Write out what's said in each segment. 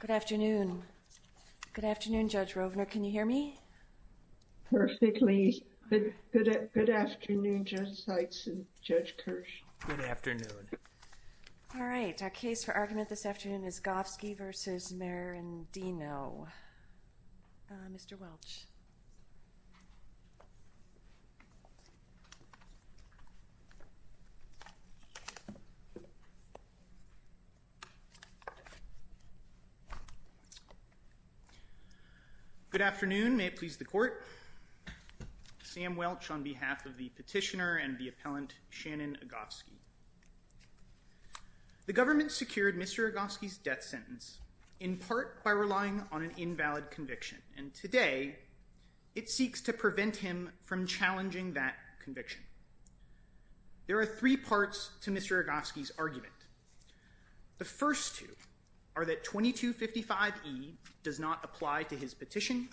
Good afternoon. Good afternoon, Judge Rovner. Can you hear me perfectly? Good afternoon, Judge Seitz and Judge Kirsch. Good afternoon. All right, our case for argument this afternoon is Agofsky v. Merendino. Mr. Welch. Good afternoon. May it please the court. Sam Welch on behalf of the petitioner and the appellant Shannon Agofsky. The government secured Mr. Agofsky's death sentence in part by relying on an invalid conviction, and today it seeks to prevent him from challenging that conviction. There are three parts to Mr. Agofsky's argument. The first two are that 2255E does not apply to his petition,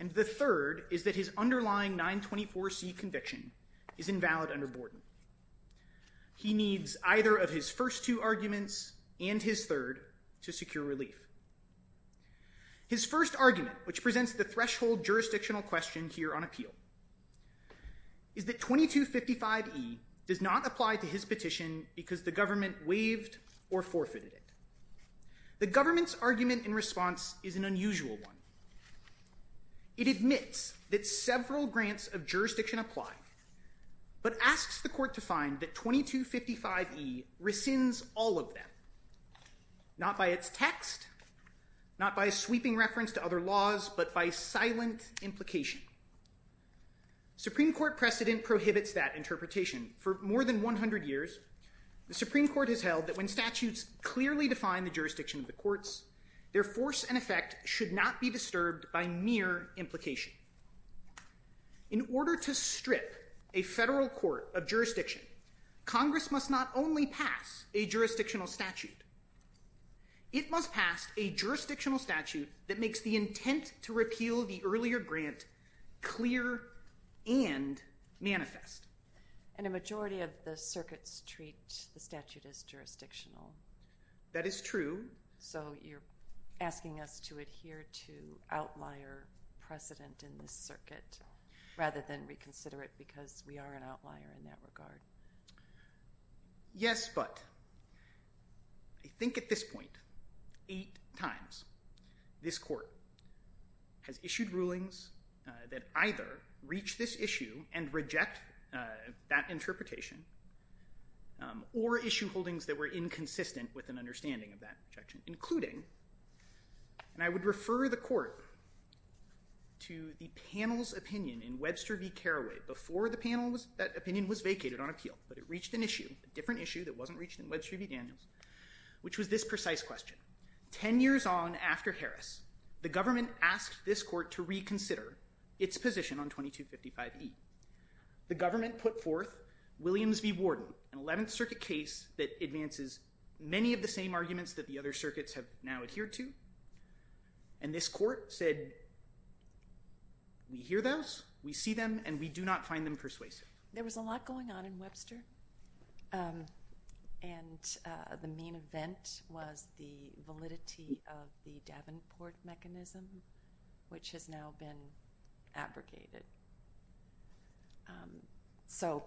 and the third is that his underlying 924C conviction is invalid under Borden. He needs either of his first two arguments and his third to secure relief. His first argument, which presents the threshold jurisdictional question here on appeal, is that 2255E does not apply to his petition because the government waived or forfeited it. The government's argument in response is an unusual one. It admits that several grants of jurisdiction apply, but asks the court to find that 2255E rescinds all of them, not by its text, not by sweeping reference to other laws, but by silent implication. Supreme Court precedent prohibits that interpretation. For more than 100 years, the Supreme Court has held that when statutes clearly define the jurisdiction of the courts, their force and effect should not be disturbed by mere implication. In order to strip a federal court of jurisdiction, Congress must not only pass a jurisdictional statute, it must pass a jurisdictional statute that makes the intent to repeal the earlier grant clear and manifest. And a majority of the circuits treat the statute as jurisdictional. That is true. So you're asking us to adhere to outlier precedent in this circuit, rather than reconsider it because we are an outlier in that regard. Yes, but I think at this point, eight times, this court has issued rulings that either reach this issue and reject that interpretation, or issue holdings that were inconsistent with an understanding of that objection, including, and I would refer the court to the panel's opinion in Webster v. Carraway, before that opinion was vacated on appeal, but it reached an issue, a different issue that wasn't reached in Webster v. Daniels, which was this precise question. Ten years on after Harris, the government asked this court to reconsider its position on 2255E. The government put forth Williams v. Warden, an 11th Circuit case that advances many of the same arguments that the other circuits have now adhered to, and this court said, we hear those, we see them, and we do not find them persuasive. There was a lot going on in Webster, and the main event was the validity of the Davenport mechanism, which has now been abrogated. So,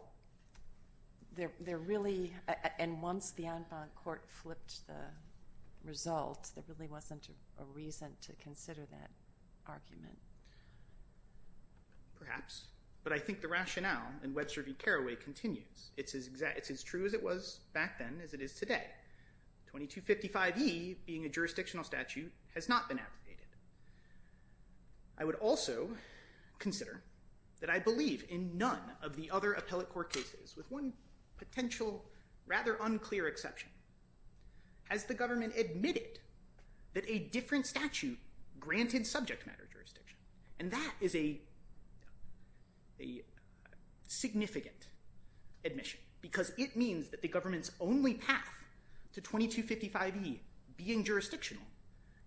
they're really, and once the Enfront Court flipped the result, there really wasn't a reason to consider that argument. Perhaps, but I think the rationale in Webster v. Carraway continues. It's as true as it was back then, as it is today. 2255E, being a jurisdictional statute, has not been abrogated. I would also consider that I believe in none of the other appellate court cases, with one potential rather unclear exception, has the government admitted that a different statute granted subject matter jurisdiction, and that is a significant admission, because it means that the government's only path to 2255E being jurisdictional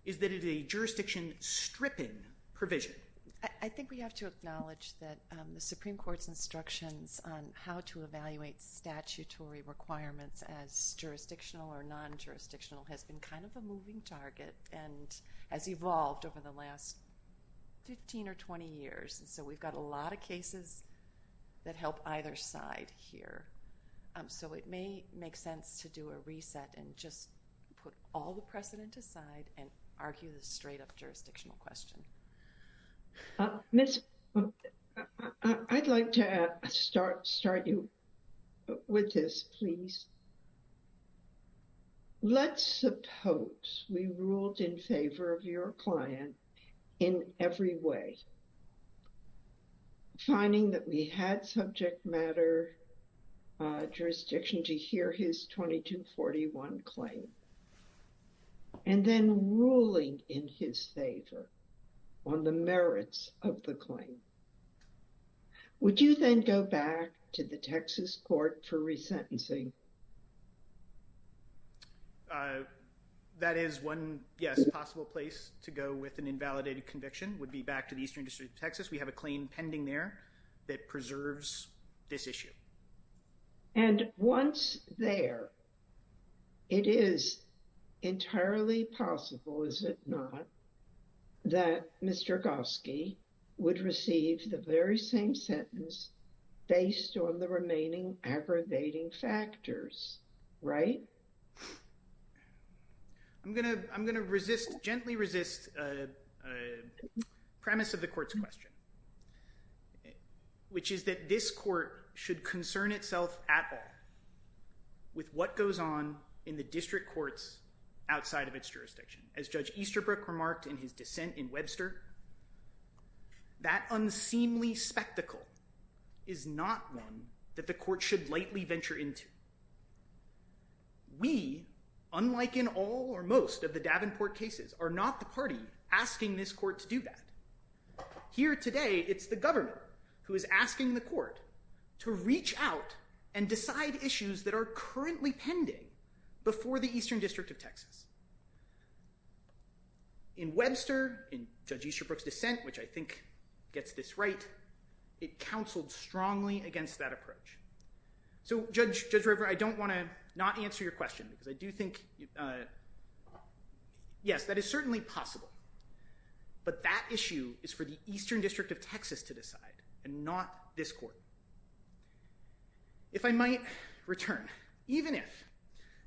is that it is a jurisdiction-stripping provision. I think we have to acknowledge that the Supreme Court's instructions on how to evaluate statutory requirements as jurisdictional or non-jurisdictional has been kind of a moving target and has evolved over the last 15 or 20 years, and so we've got a lot of cases that help either side here. So, it may make sense to do a reset and just put all the precedent aside and argue the straight-up jurisdictional question. Miss, I'd like to start you with this, please. Let's suppose we ruled in favor of your client in every way, finding that we had subject matter jurisdiction to hear his 2241 claim, and then ruling in his favor on the merits of the claim. Would you then go back to the would be back to the Eastern District of Texas. We have a claim pending there that preserves this issue. And once there, it is entirely possible, is it not, that Mr. Goski would receive the very same sentence based on the remaining aggravating factors, right? I'm going to resist, gently resist, a premise of the court's question, which is that this court should concern itself at all with what goes on in the district courts outside of its jurisdiction. As Judge Easterbrook remarked in his dissent in Webster, that unseemly spectacle is not one that the court should lightly venture into. We, unlike in all or most of the Davenport cases, are not the party asking this court to do that. Here today, it's the government who is asking the court to reach out and decide issues that are currently pending before the Eastern District of Texas. In Webster, in Judge Easterbrook's dissent, which I think gets this right, it counseled strongly against that approach. So, Judge Rivera, I don't want to not answer your question because I do think, yes, that is certainly possible. But that issue is for the Eastern District of Texas to decide and not this court. If I might return, even if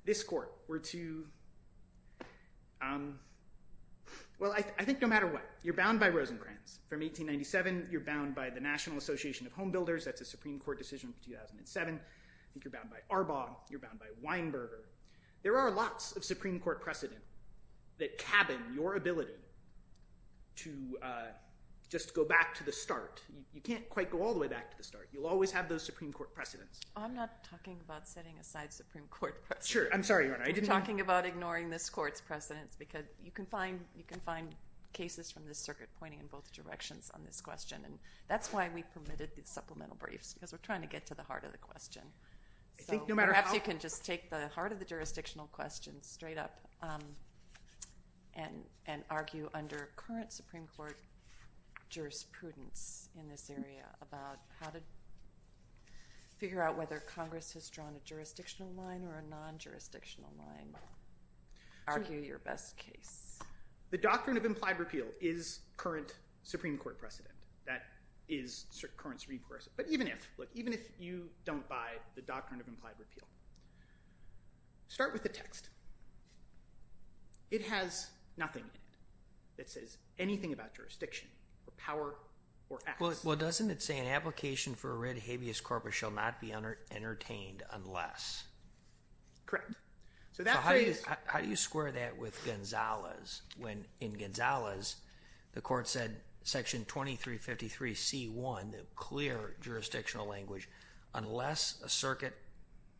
this court were to, well, I think no matter what, you're bound by Rosenbrands. From 1897, you're bound by the National Association of Home Builders. That's a Supreme Court decision from 2007. I think you're bound by Arbaugh. You're bound by Weinberger. There are lots of Supreme Court precedent that cabin your ability to just go back to the start. You can't quite go all the way back to the start. You'll always have those Supreme Court precedents. I'm not talking about setting aside Supreme Court precedents. Sure. I'm sorry, Your Honor. I didn't mean to. I'm talking about ignoring this court's precedents because you can find cases from this circuit pointing in both directions on this question. That's why we permitted the supplemental briefs because we're trying to get to the heart of the question. So perhaps you can just take the heart of the jurisdictional question straight up and argue under current Supreme Court jurisprudence in this area about how to figure out whether Congress has drawn a jurisdictional line or a non-jurisdictional line. Argue your best case. The doctrine of implied repeal is current Supreme Court precedent. That is current Supreme Court precedent. But even if you don't buy the doctrine of implied repeal, start with the text. It has nothing in it that says anything about jurisdiction or power or acts. Well, doesn't it say an application for a writ habeas corpus shall not be entertained unless? Correct. So how do you square that with Gonzales when in Gonzales, the court said section 2353 C1, the clear jurisdictional language, unless a circuit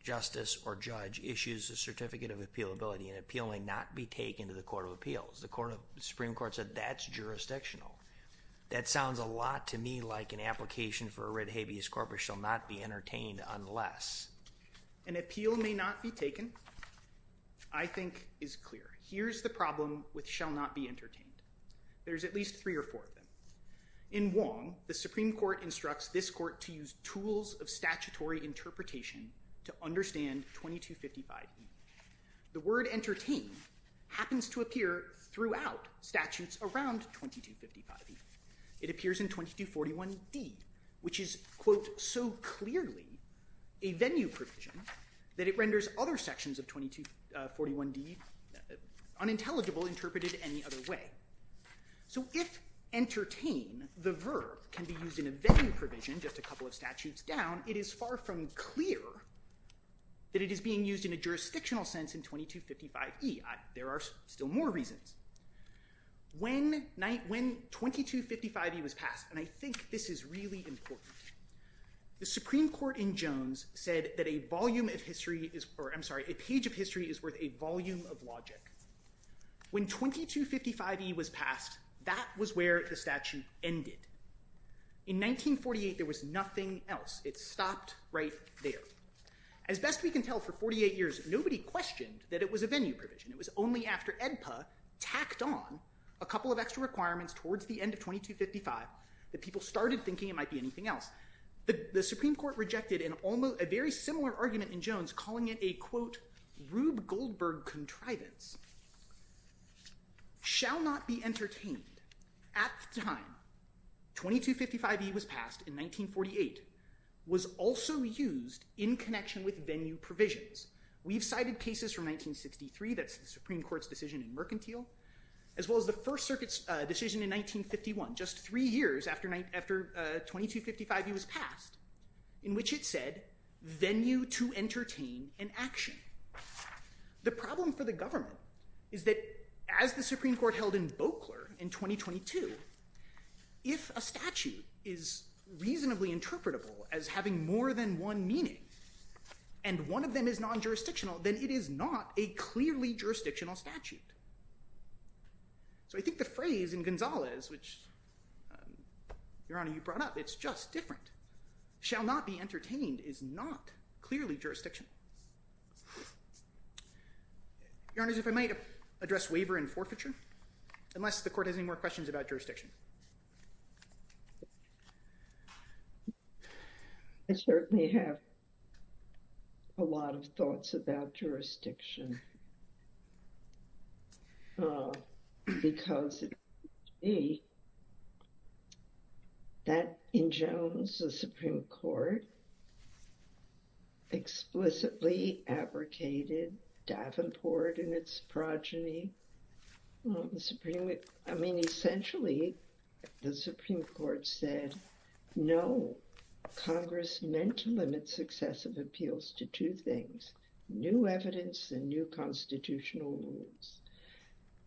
justice or judge issues a certificate of appealability, an appeal may not be taken to the Court of Appeals. The Supreme Court said that's jurisdictional. That sounds a lot to me like an application for a writ habeas corpus shall not be entertained unless. An appeal may not be taken, I think is clear. Here's the problem with shall not be entertained. There's at least three or four of them. In Wong, the Supreme Court instructs this court to use tools of statutory interpretation to understand 2255 E. The word entertain happens to appear throughout statutes around 2255 E. It appears in 2241 D, which is, quote, so clearly a venue provision that it renders other sections of 2241 D unintelligible interpreted any other way. So if entertain, the verb, can be used in a venue provision just a couple of statutes down, it is far from clear that it is being used in a jurisdictional sense in 2255 E. There are still more reasons. When 2255 E was passed, and I think this is really important, the Supreme Court in Jones said that a page of history is worth a volume of logic. When 2255 E was passed, that was where the statute ended. In 1948, there was nothing else. It stopped right there. As best we can tell, for 48 years, nobody questioned that it was a venue provision. It was only after EDPA tacked on a couple of extra requirements towards the end of 2255 that people started thinking it might be anything else. The Supreme Court rejected a very similar argument in Jones, calling it a, quote, Rube Goldberg contrivance. Shall not be entertained at the time 2255 E was passed in 1948 was also used in connection with venue provisions. We've cited cases from 1963, that's the Supreme Court's decision in 1951, just three years after 2255 E was passed, in which it said venue to entertain an action. The problem for the government is that as the Supreme Court held in Boakler in 2022, if a statute is reasonably interpretable as having more than one meaning, and one of them is non-jurisdictional, then it is not a clearly jurisdictional statute. So I think the phrase in Gonzalez, which, Your Honor, you brought up, it's just different. Shall not be entertained is not clearly jurisdiction. Your Honors, if I might address waiver and forfeiture, unless the court has any more questions about jurisdiction. I certainly have a lot of thoughts about jurisdiction. Because that in Jones, the Supreme Court explicitly abrogated Davenport and its progeny. I mean, essentially, the Supreme Court said, no, Congress meant to limit successive appeals to two things, new evidence and new constitutional rules.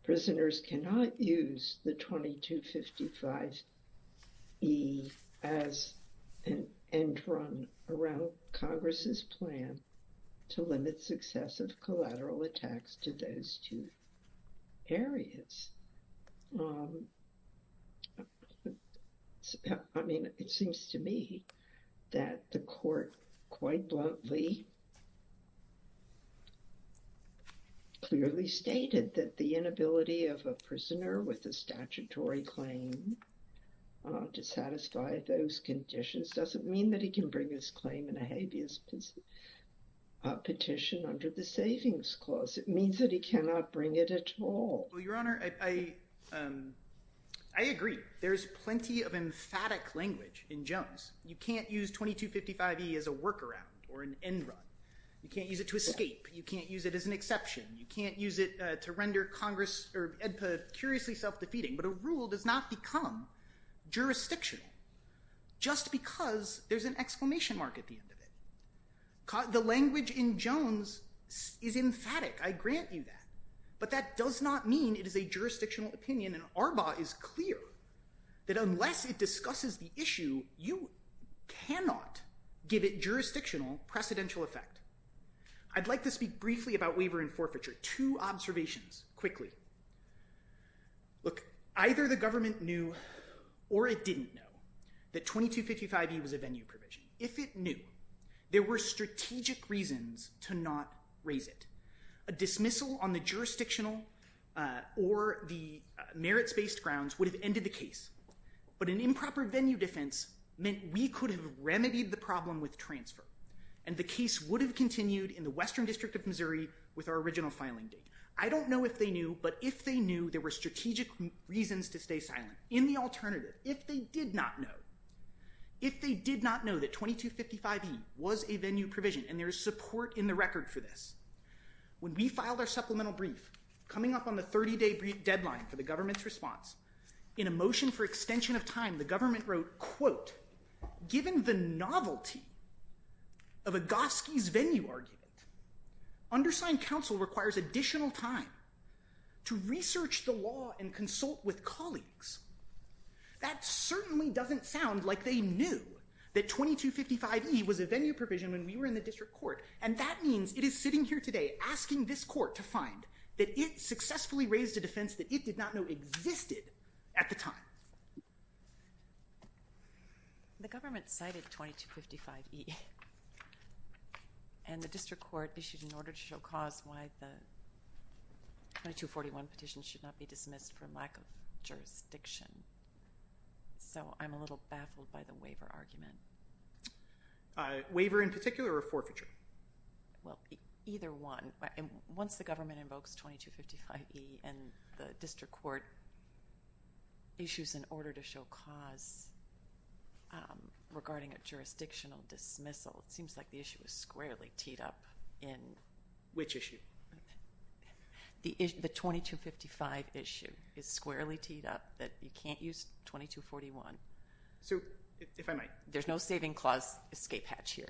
Prisoners cannot use the 2255 E as an end run around Congress's plan to limit successive collateral attacks to those two areas. I mean, it seems to me that the court quite bluntly, clearly stated that the inability of a prisoner with a statutory claim to satisfy those conditions doesn't mean that he can bring his claim in a habeas petition under the Savings Clause. It means that he cannot bring it at all. Well, Your Honor, I agree. There's plenty of emphatic language in Jones. You can't use 2255 E as a workaround or an end run. You can't use it to escape. You can't use it as an exception. You can't use it to render Congress or Edpa curiously self-defeating. But a rule does not become jurisdictional just because there's an exclamation mark at the end of it. The language in Jones is emphatic. I grant you that. But that does not mean it is a jurisdictional opinion. And Arbaugh is clear that unless it discusses the issue, you cannot give it jurisdictional precedential effect. I'd like to speak briefly about waiver and forfeiture. Two observations, quickly. Look, either the government knew or it didn't know that 2255 E was a venue provision. If it knew, there were strategic reasons to not raise it. A dismissal on the jurisdictional or the merits-based grounds would have ended the case. But an improper venue defense meant we could have remedied the problem with transfer. And the case would have continued in the Western District of Missouri with our original filing date. I don't know if they knew, but if they knew, there were strategic reasons to stay silent. In the alternative, if they did not know, that 2255 E was a venue provision, and there is support in the record for this, when we filed our supplemental brief, coming up on the 30-day deadline for the government's response, in a motion for extension of time, the government wrote, quote, given the novelty of Agoskey's venue argument, undersigned counsel requires additional time to research the law and consult with colleagues. That certainly doesn't sound like they knew that 2255 E was a venue provision when we were in the district court. And that means it is sitting here today asking this court to find that it successfully raised a defense that it did not know existed at the time. The government cited 2255 E, and the district court issued an order to show cause why the 2241 petition should not be dismissed for lack of jurisdiction. So I'm a little baffled by the waiver argument. Waiver in particular or forfeiture? Either one. Once the government invokes 2255 E, and the district court issues an order to show cause regarding a jurisdictional dismissal, it seems like the issue is squarely teed up in which issue? The 2255 issue is squarely teed up that you can't use 2241. So, if I might. There's no saving clause escape hatch here.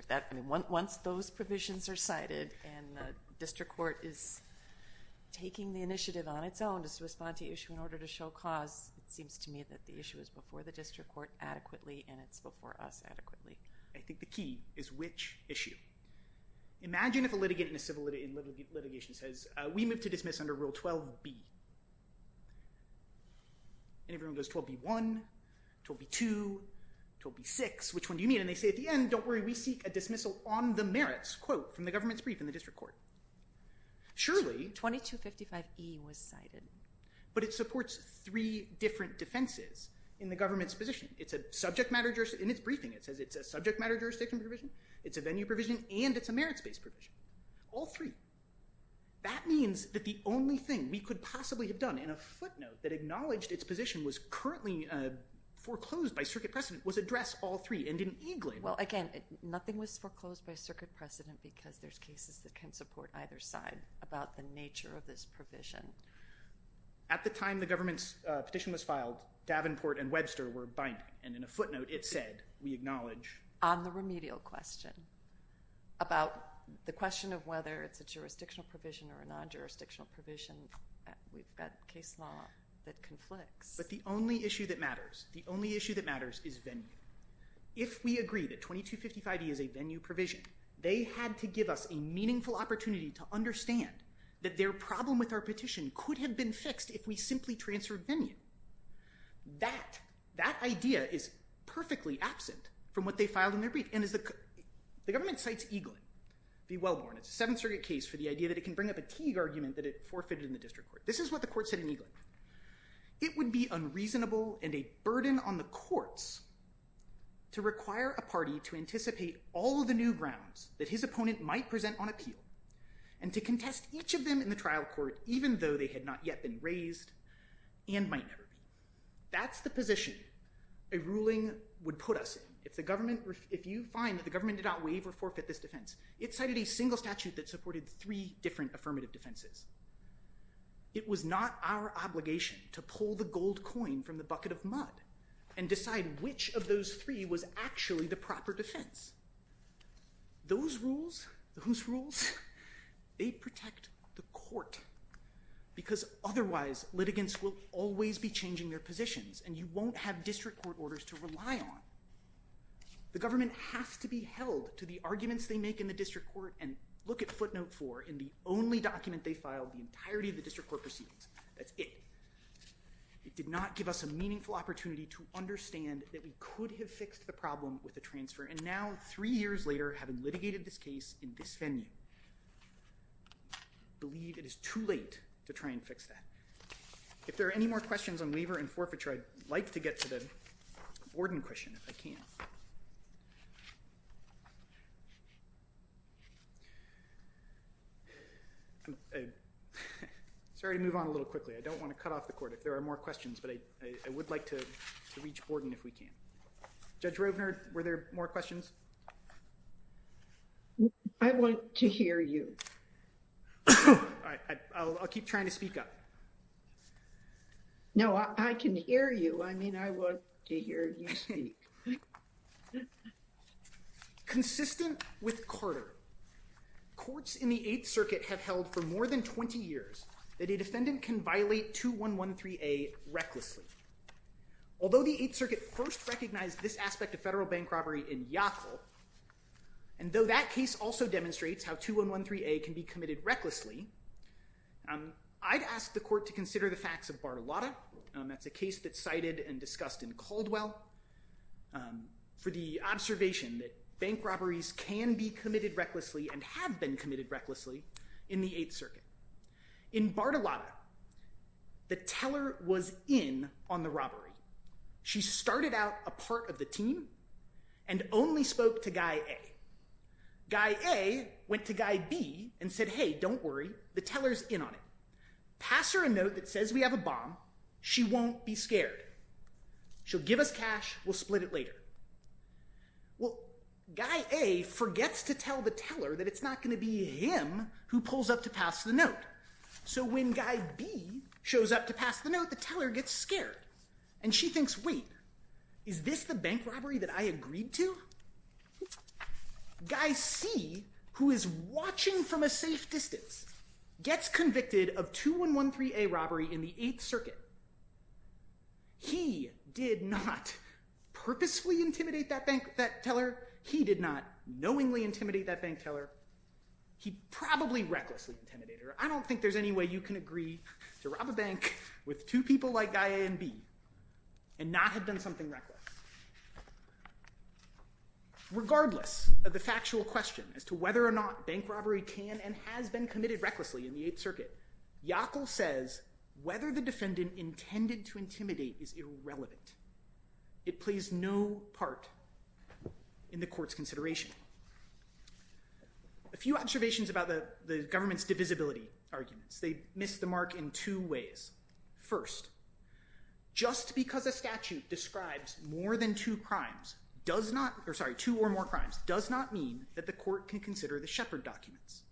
Once those provisions are cited, and the district court is taking the initiative on its own to respond to the issue in order to show cause, it seems to me that the issue is before the district court adequately, and it's before us adequately. I think the key is which issue. Imagine if a litigant in a civil litigation says, we move to dismiss under Rule 12B. And everyone goes, 12B1, 12B2, 12B6, which one do you mean? And they say at the end, don't worry, we seek a dismissal on the merits, quote, from the government's brief in the district court. Surely 2255 E was cited. But it supports three different defenses in the government's position. It's a subject matter jurisdiction provision, it's a venue provision, and it's a merits-based provision. All three. That means that the only thing we could possibly have done in a footnote that acknowledged its position was currently foreclosed by circuit precedent was address all three and didn't even claim it. Well, again, nothing was foreclosed by circuit precedent because there's cases that can support either side about the nature of this provision. At the time the government's petition was filed, Davenport and Webster were binding. And in a footnote it said, we acknowledge. On the remedial question, about the question of whether it's a jurisdictional provision or a non-jurisdictional provision, we've got case law that conflicts. But the only issue that matters, the only issue that matters is venue. If we agree that 2255 E is a venue provision, they had to give us a meaningful opportunity to understand that their problem with our petition could have been fixed if we simply transferred venue. That idea is perfectly absent from what they filed in their brief. And as the government cites Eaglin, be well-born, it's a Seventh Circuit case for the idea that it can bring up a Teague argument that it forfeited in the district court. This is what the court said in Eaglin. It would be unreasonable and a burden on the courts to require a party to anticipate all the new grounds that his opponent might present on appeal and to contest each of them in the case that might never be. That's the position a ruling would put us in if the government, if you find that the government did not waive or forfeit this defense. It cited a single statute that supported three different affirmative defenses. It was not our obligation to pull the gold coin from the bucket of mud and decide which of those three was actually the proper defense. Those rules, the Hoos rules, they protect the court because otherwise litigants will always be changing their positions and you won't have district court orders to rely on. The government has to be held to the arguments they make in the district court and look at footnote four in the only document they filed, the entirety of the district court proceedings. That's it. It did not give us a meaningful opportunity to understand that we could have fixed the problem with a transfer. And now three years later, having litigated this case in this venue, I believe it is too late to try and fix that. If there are any more questions on waiver and forfeiture, I'd like to get to the Borden question if I can. Sorry to move on a little quickly. I don't want to cut off the court if there are more questions, but I would like to reach Borden if we can. Judge Rovner, were there more questions? I want to hear you. All right. I'll keep trying to speak up. No, I can hear you. I mean, I want to hear you speak. Consistent with Carter, courts in the Eighth Circuit have held for more than 20 years that a defendant can violate 2113A recklessly. Although the Eighth Circuit first recognized this aspect of federal bank robbery in Yackel, and though that case also demonstrates how 2113A can be committed recklessly, I'd ask the court to consider the facts of Bartolotta. That's a case that's cited and discussed in Caldwell for the observation that bank robberies can be committed recklessly and have been committed recklessly in the Eighth Circuit. In Bartolotta, the teller was in on the robbery. She started out a part of the team and only spoke to Guy A. Guy A went to Guy B and said, hey, don't worry. The teller's in on it. Pass her a note that says we have a bomb. She won't be scared. She'll give us cash. We'll split it later. Well, Guy A forgets to tell the teller that it's not going to be him who pulls up to pass the note. So when Guy B shows up to pass the note, the teller gets scared, and she thinks, wait, is this the bank robbery that I agreed to? Guy C, who is watching from a safe distance, gets convicted of 2113A robbery in the Eighth He did not purposefully intimidate that teller. He did not knowingly intimidate that bank teller. He probably recklessly intimidated her. I don't think there's any way you can agree to rob a bank with two people like Guy A and B and not have done something reckless. Regardless of the factual question as to whether or not bank robbery can and has been committed recklessly in the Eighth Circuit, Yackel says whether the defendant intended to intimidate is irrelevant. It plays no part in the court's consideration. A few observations about the government's divisibility arguments. They miss the mark in two ways. First, just because a statute describes more than two crimes, sorry, two or more crimes, does not mean that the court can consider the Shepard documents.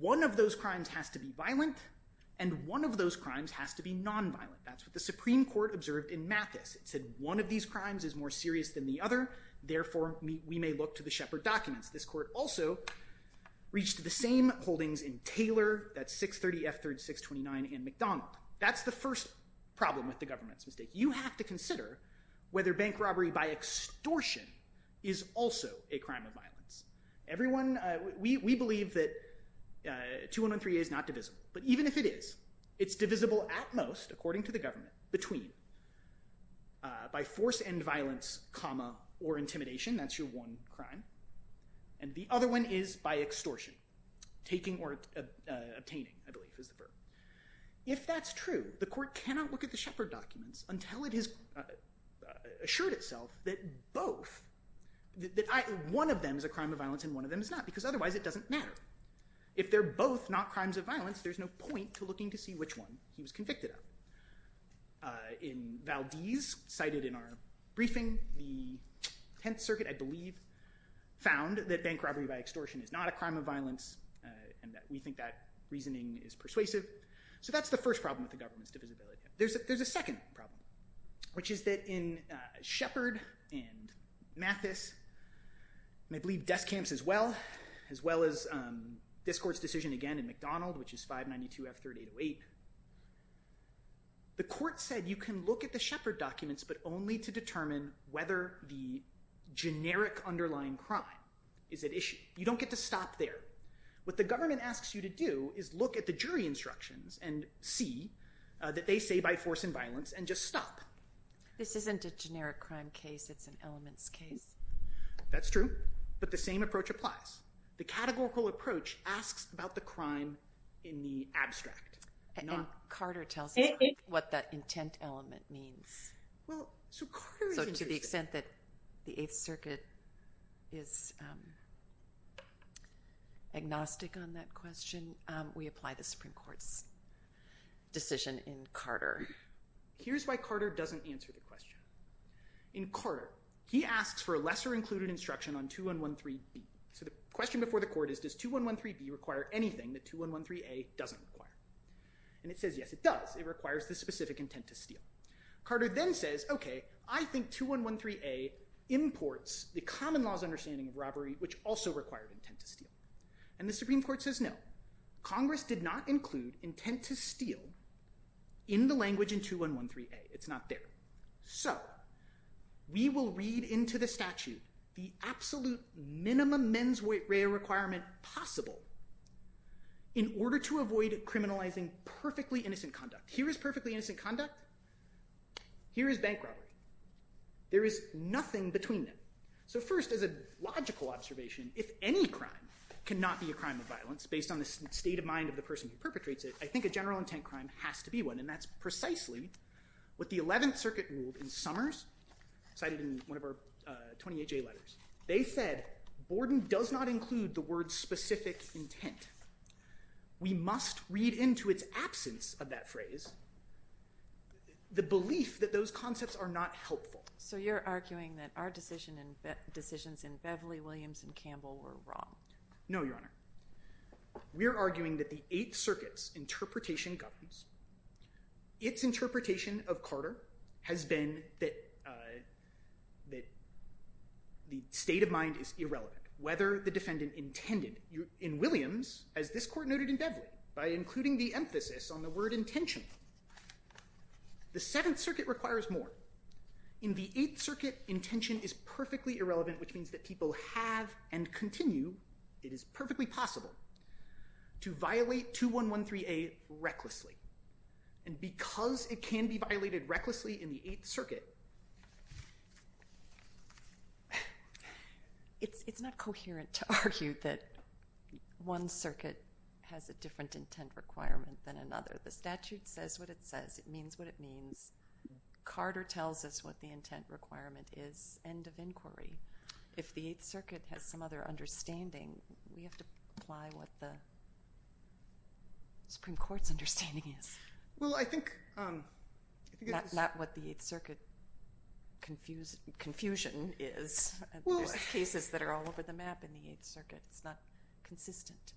One of those crimes has to be violent, and one of those crimes has to be nonviolent. That's what the Supreme Court observed in Mathis. It said one of these crimes is more serious than the other. Therefore, we may look to the Shepard documents. This court also reached the same holdings in Taylor, that's 630F3629, and McDonald. That's the first problem with the government's mistake. You have to consider whether bank robbery by extortion is also a crime of violence. Everyone, we believe that 213A is not divisible, but even if it is, it's divisible at most, according to the government, between by force and violence, comma, or intimidation, that's your one crime, and the other one is by extortion. Taking or obtaining, I believe, is the verb. If that's true, the court cannot look at the Shepard documents until it has assured itself that both, that one of them is a crime of violence and one of them is not, because otherwise it doesn't matter. If they're both not crimes of violence, there's no point to looking to see which one he was convicted of. In Valdez, cited in our briefing, the Tenth Circuit, I believe, found that bank robbery by extortion is not a crime of violence, and that we think that reasoning is persuasive. So that's the first problem with the government's divisibility. There's a second problem, which is that in Shepard and Mathis, and I believe Deskamp's as well, as well as this court's decision again in McDonald, which is 592 F3808, the court said you can look at the Shepard documents, but only to determine whether the generic underlying crime is at issue. You don't get to stop there. What the government asks you to do is look at the jury instructions and see that they say by force and violence, and just stop. This isn't a generic crime case. It's an elements case. That's true, but the same approach applies. The categorical approach asks about the crime in the abstract. And Carter tells us what that intent element means. So to the extent that the Eighth Circuit is agnostic on that question, we apply the Supreme Court's decision in Carter. However, here's why Carter doesn't answer the question. In Carter, he asks for a lesser included instruction on 2113B. So the question before the court is, does 2113B require anything that 2113A doesn't require? And it says, yes, it does. It requires the specific intent to steal. Carter then says, okay, I think 2113A imports the common law's understanding of robbery, which also required intent to steal. And the Supreme Court says no. Congress did not include intent to steal in the language in 2113A. It's not there. So we will read into the statute the absolute minimum mens rea requirement possible in order to avoid criminalizing perfectly innocent conduct. Here is perfectly innocent conduct. Here is bank robbery. There is nothing between them. So first, as a logical observation, if any crime cannot be a crime of violence based on the state of mind of the person who perpetrates it, I think a general intent crime has to be one. And that's precisely what the Eleventh Circuit ruled in Summers, cited in one of our 28J letters. They said, Borden does not include the word specific intent. We must read into its absence of that phrase the belief that those concepts are not helpful. So you're arguing that our decisions in Beverly, Williams, and Campbell were wrong. No, Your Honor. We're arguing that the Eighth Circuit's interpretation governs. Its interpretation of Carter has been that the state of mind is irrelevant. Whether the defendant intended in Williams, as this court noted in Beverly, by including the emphasis on the word intentional. The Seventh Circuit requires more. In the Eighth Circuit, intention is perfectly irrelevant, which means that people have and continue, it is perfectly possible, to violate 2113A recklessly. And because it can be violated recklessly in the Eighth Circuit, It's not coherent to argue that one circuit has a different intent requirement than another. The statute says what it says. It means what it means. Carter tells us what the intent requirement is. End of inquiry. If the Eighth Circuit has some other understanding, we have to apply what the Supreme Court's understanding is. Not what the Eighth Circuit confusion is. There's cases that are all over the map in the Eighth Circuit. It's not consistent.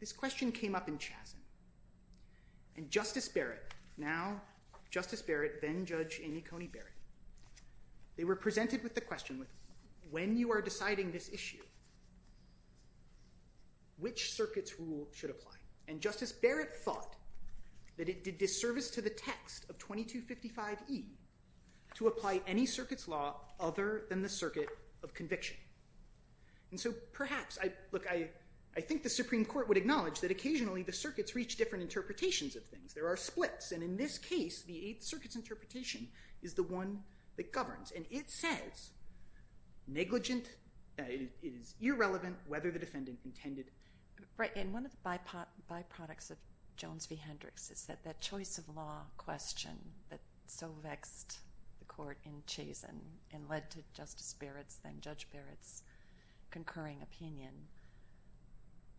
This question came up in Chazen. And Justice Barrett, now Justice Barrett, then Judge Amy Coney Barrett, they were presented with the question, when you are deciding this issue, which circuit's rule should apply? And Justice Barrett thought that it did disservice to the text of 2255E to apply any circuit's law other than the circuit of conviction. And so perhaps, look, I think the Supreme Court would acknowledge that occasionally the circuits reach different interpretations of things. There are splits. And in this case, the Eighth Circuit's interpretation is the one that governs. And it says negligent, it is irrelevant whether the defendant intended. Right. And one of the byproducts of Jones v. Hendricks is that that choice of law question that so vexed the court in Chazen and led to Justice Barrett's then Judge Barrett's concurring opinion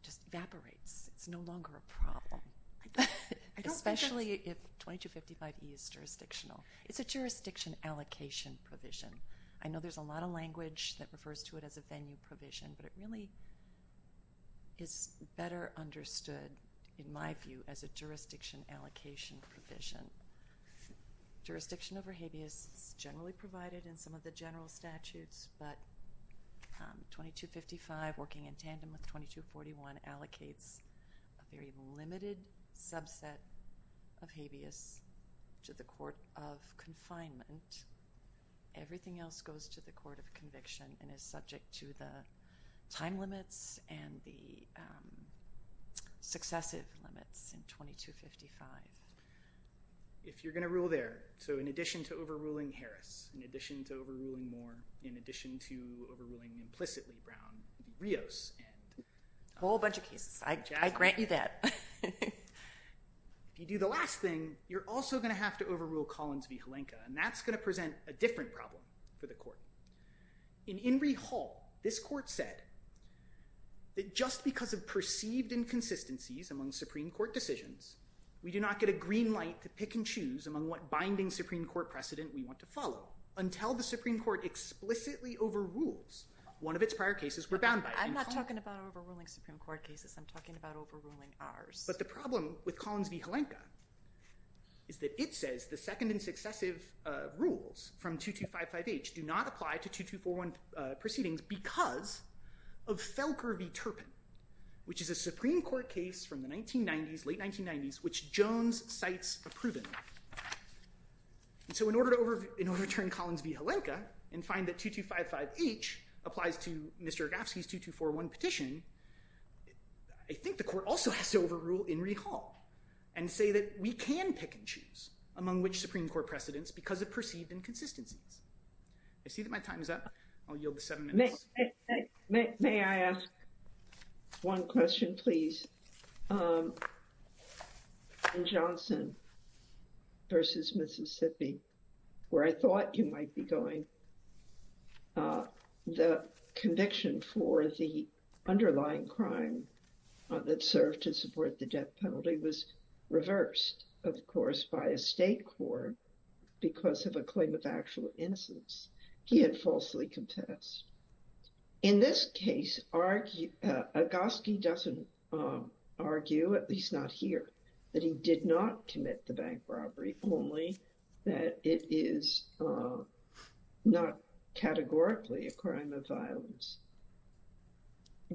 just evaporates. It's no longer a problem. Especially if 2255E is jurisdictional. It's a jurisdiction allocation provision. I know there's a lot of language that refers to it as a venue provision, but it really is better understood, in my view, as a jurisdiction allocation provision. Jurisdiction over habeas is generally provided in some of the general statutes, but 2255 working in tandem with 2241 allocates a very limited subset of habeas to the court of confinement. Everything else goes to the court of conviction and is subject to the time limits and the successive limits in 2255. If you're going to rule there, so in addition to overruling Harris, in addition to overruling Moore, in addition to overruling implicitly Brown, Rios and Chazen. A whole bunch of cases. I grant you that. If you do the last thing, you're also going to have to overrule Collins v. Halenka, and that's going to present a different problem for the court. In Inree Hall, this court said that just because of perceived inconsistencies among Supreme Court decisions, we do not get a green light to pick and choose among what binding Supreme Court precedent we want to follow until the Supreme Court explicitly overrules one of its prior cases we're bound by. I'm not talking about overruling Supreme Court cases. I'm talking about overruling ours. But the problem with Collins v. Halenka is that it says the second and successive rules from 2255H do not apply to 2241 proceedings because of Felker v. Turpin, which is a Supreme Court case from the 1990s, late 1990s, which Jones cites approvingly. So in order to overturn Collins v. Halenka and find that 2255H applies to Mr. Agafsky's 2241 petition, I think the court also has to overrule Inree Hall and say that we can pick and choose among which Supreme Court precedents because of perceived inconsistencies. I see that my time is up. I'll yield the seven minutes. May I ask one question, please? In Johnson v. Mississippi, where I thought you might be going, the conviction for the underlying crime that served to support the death penalty was reversed, of course, by a state court because of a claim of actual innocence. He had falsely contested. In this case, Agafsky doesn't argue, at least not here, that he did not commit the bank robbery, only that it is not categorically a crime of violence.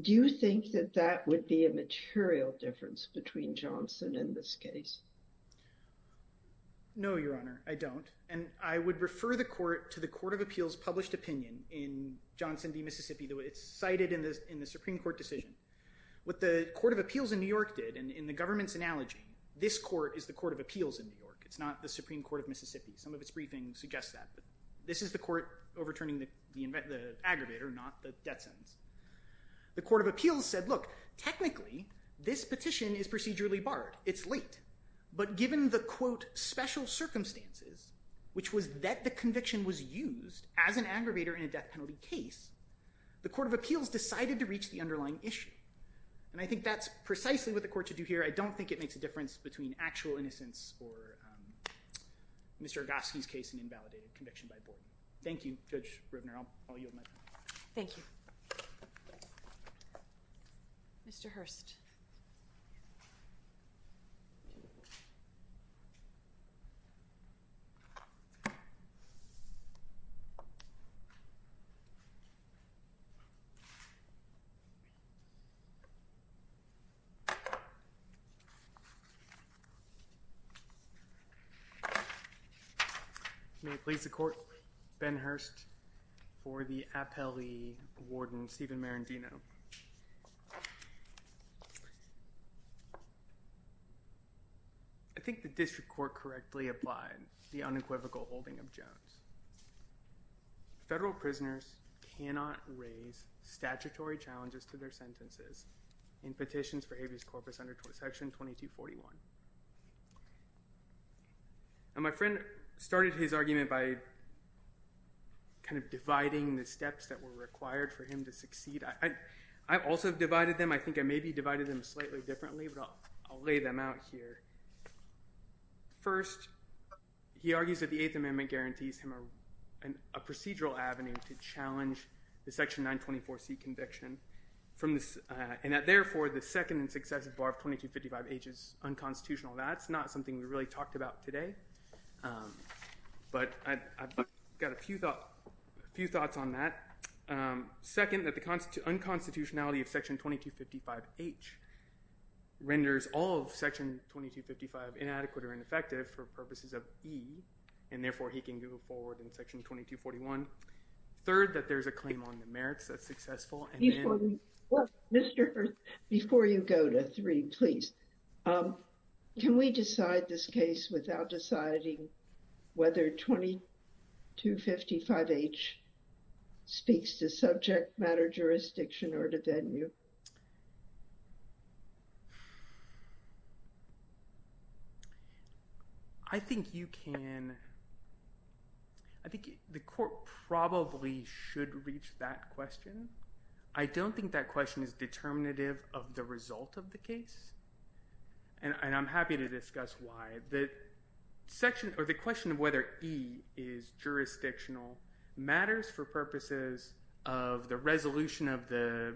Do you think that that would be a material difference between Johnson and this case? No, Your Honor, I don't. And I would refer the court to the Court of Appeals published opinion in Johnson v. Mississippi. It's cited in the Supreme Court decision. What the Court of Appeals in New York did, in the government's analogy, this court is the Court of Appeals in New York. It's not the Supreme Court of Mississippi. Some of its briefings suggest that. This is the court overturning the aggravator, not the death sentence. The Court of Appeals said, look, technically, this petition is procedurally barred. It's late. But given the, quote, special circumstances, which was that the conviction was used as an aggravator in a death penalty case, the Court of Appeals decided to reach the underlying issue. And I think that's precisely what the court should do here. I don't think it makes a difference between actual innocence or Mr. Agafsky's case and invalidated conviction by board. Thank you, Judge Rivner. I'll yield my time. Thank you. Mr. Hurst. May it please the Court, Ben Hurst for the appellee, Warden Stephen Marendino. I think the district court correctly applied the unequivocal holding of Jones. Federal prisoners cannot raise statutory challenges to their sentences in petitions for habeas corpus under Section 2241. My friend started his argument by kind of dividing the steps that were required for him to succeed. I also divided them. I think I maybe divided them slightly differently, but I'll lay them out here. First, he argues that the Eighth Amendment guarantees him a procedural avenue to challenge the Section 924C conviction and that, therefore, the second and successive bar of 2255H is unconstitutional. That's not something we really talked about today, but I've got a few thoughts on that. Second, that the unconstitutionality of Section 2255H renders all of Section 2255 inadequate or ineffective for purposes of E, and, therefore, he can go forward in Section 2241. Third, that there's a claim on the merits that's successful. Mr. Hurst, before you go to three, please, can we decide this case without deciding whether 2255H speaks to subject matter jurisdiction or to venue? I think you can. I think the court probably should reach that question. I don't think that question is determinative of the result of the case, and I'm happy to discuss why. The question of whether E is jurisdictional matters for purposes of the resolution of the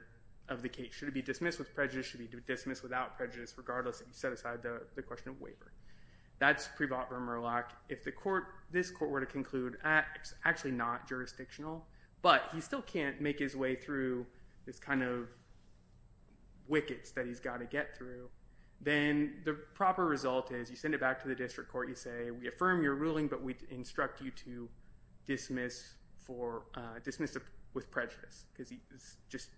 case. Should it be dismissed with prejudice? Should it be dismissed without prejudice, regardless if you set aside the question of waiver? That's Prevot or Murlock. If this court were to conclude, it's actually not jurisdictional, but he still can't make his way through this kind of wickets that he's got to get through, then the proper result is you send it back to the district court. You say, we affirm your ruling, but we instruct you to dismiss with prejudice because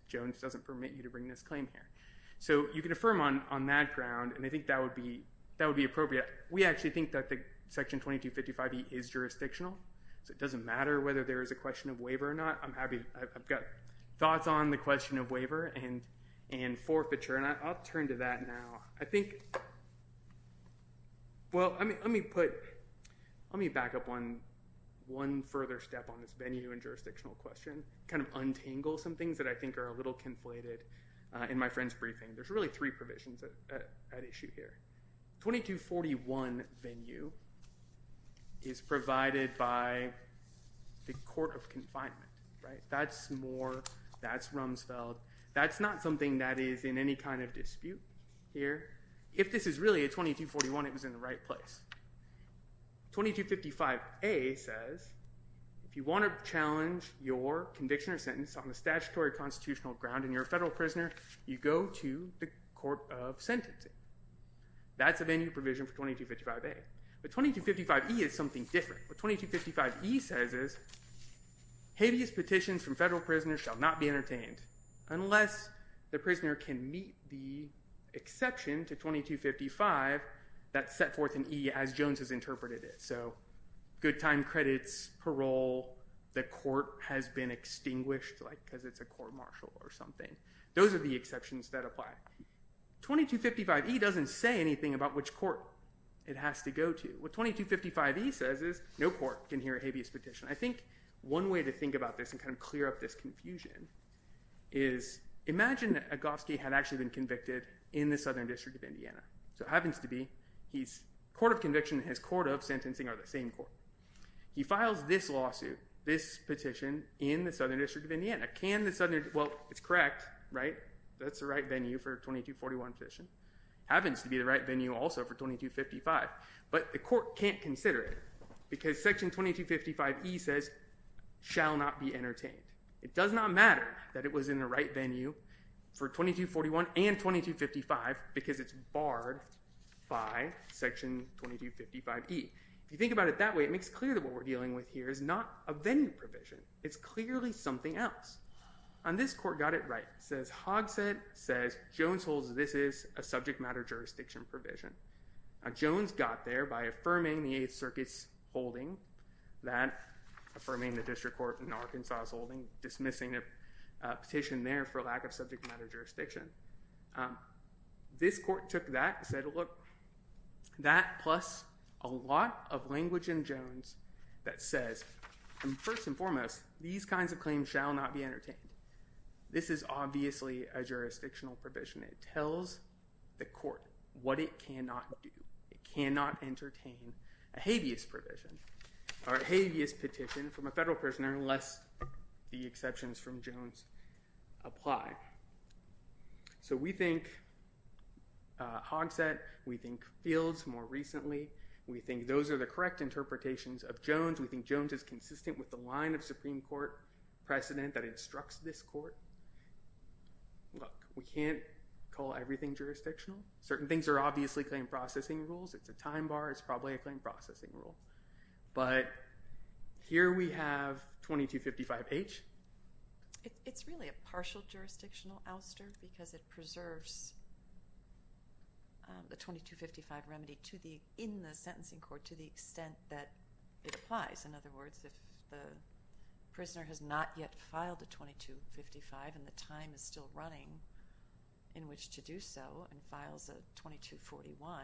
Jones doesn't permit you to bring this claim here. You can affirm on that ground, and I think that would be appropriate. We actually think that Section 2255E is jurisdictional, so it doesn't matter whether there is a question of waiver or not. I've got thoughts on the question of waiver and forfeiture, and I'll turn to that now. Let me back up one further step on this venue and jurisdictional question, kind of untangle some things that I think are a little conflated in my friend's briefing. There's really three provisions at issue here. 2241 venue is provided by the court of confinement. That's Moore. That's Rumsfeld. That's not something that is in any kind of dispute here. If this is really a 2241, it was in the right place. 2255A says if you want to challenge your conviction or sentence on the statutory constitutional ground and you're a federal prisoner, you go to the court of sentencing. That's a venue provision for 2255A. But 2255E is something different. What 2255E says is, Habeas petitions from federal prisoners shall not be entertained unless the prisoner can meet the exception to 2255 that's set forth in E as Jones has interpreted it. Good time credits, parole, the court has been extinguished because it's a court martial or something. Those are the exceptions that apply. 2255E doesn't say anything about which court it has to go to. What 2255E says is no court can hear a habeas petition. I think one way to think about this and kind of clear up this confusion is imagine that Agofsky had actually been convicted in the Southern District of Indiana. So it happens to be his court of conviction and his court of sentencing are the same court. He files this lawsuit, this petition, in the Southern District of Indiana. Well, it's correct, right? That's the right venue for 2241 petition. Happens to be the right venue also for 2255. But the court can't consider it because section 2255E says shall not be entertained. It does not matter that it was in the right venue for 2241 and 2255 because it's barred by section 2255E. If you think about it that way, it makes clear that what we're dealing with here is not a venue provision. It's clearly something else. And this court got it right. It says Hogshead says Jones holds this is a subject matter jurisdiction provision. Now, Jones got there by affirming the Eighth Circuit's holding that, affirming the district court in Arkansas' holding, dismissing a petition there for lack of subject matter jurisdiction. This court took that and said, look, that plus a lot of language in Jones that says, first and foremost, these kinds of claims shall not be entertained. This is obviously a jurisdictional provision. It tells the court what it cannot do. It cannot entertain a habeas provision or a habeas petition from a federal prisoner unless the exceptions from Jones apply. So we think Hogshead, we think Fields more recently, we think those are the correct interpretations of Jones. We think Jones is consistent with the line of Supreme Court precedent that instructs this court. Look, we can't call everything jurisdictional. Certain things are obviously claim processing rules. It's a time bar. It's probably a claim processing rule. But here we have 2255H. It's really a partial jurisdictional ouster because it preserves the 2255 remedy in the sentencing court to the extent that it applies. In other words, if the prisoner has not yet filed a 2255 and the time is still running in which to do so and files a 2241,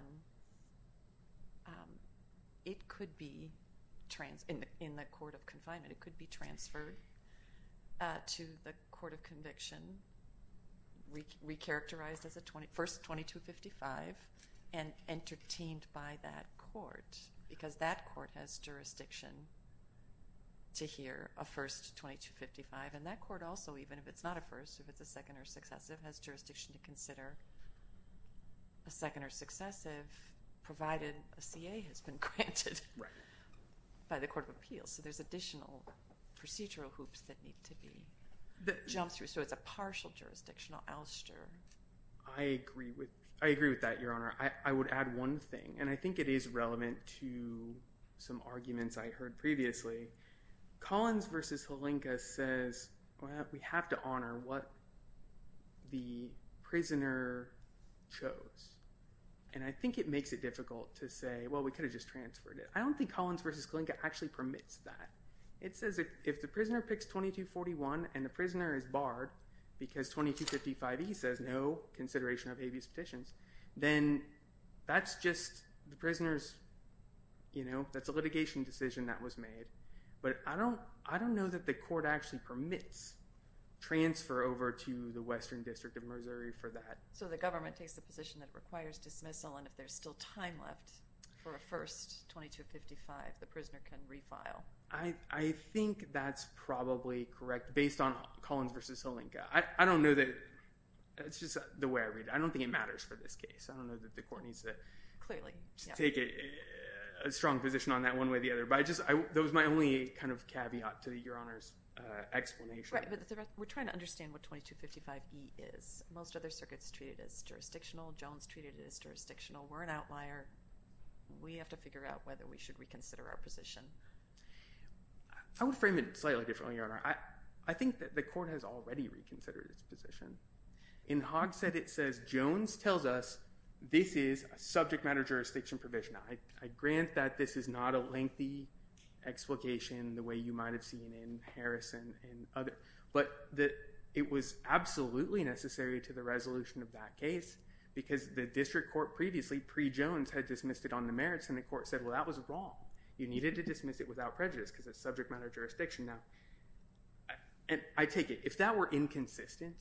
it could be in the court of confinement. It could be transferred to the court of conviction, recharacterized as a first 2255 and entertained by that court because that court has jurisdiction to hear a first 2255. And that court also, even if it's not a first, if it's a second or successive, has jurisdiction to consider a second or successive, provided a CA has been granted by the court of appeals. So there's additional procedural hoops that need to be jumped through. So it's a partial jurisdictional ouster. I agree with that, Your Honor. I would add one thing, and I think it is relevant to some arguments I heard previously. Collins v. Halenka says, well, we have to honor what the prisoner chose. And I think it makes it difficult to say, well, we could have just transferred it. I don't think Collins v. Halenka actually permits that. It says if the prisoner picks 2241 and the prisoner is barred because 2255E says no consideration of habeas petitions, then that's just the prisoner's, you know, that's a litigation decision that was made. But I don't know that the court actually permits transfer over to the Western District of Missouri for that. So the government takes the position that it requires dismissal, and if there's still time left for a first 2255, the prisoner can refile. I think that's probably correct based on Collins v. Halenka. I don't know that – it's just the way I read it. I don't think it matters for this case. I don't know that the court needs to take a strong position on that one way or the other. But that was my only kind of caveat to Your Honor's explanation. Right, but we're trying to understand what 2255E is. Most other circuits treat it as jurisdictional. Jones treated it as jurisdictional. We're an outlier. We have to figure out whether we should reconsider our position. I would frame it slightly differently, Your Honor. I think that the court has already reconsidered its position. In Hogshead, it says Jones tells us this is a subject matter jurisdiction provision. I grant that this is not a lengthy explication the way you might have seen in Harrison and others. But it was absolutely necessary to the resolution of that case because the district court previously, pre-Jones, had dismissed it on the merits, and the court said, well, that was wrong. You needed to dismiss it without prejudice because it's a subject matter jurisdiction. I take it if that were inconsistent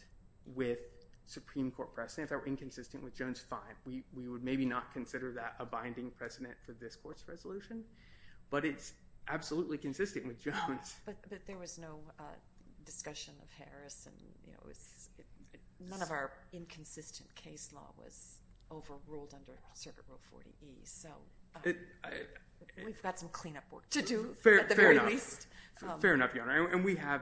with Supreme Court precedent, if that were inconsistent with Jones, fine. We would maybe not consider that a binding precedent for this court's resolution. But it's absolutely consistent with Jones. But there was no discussion of Harrison. None of our inconsistent case law was overruled under Circuit Rule 40E. We've got some cleanup work to do, at the very least. Fair enough, Your Honor. And we have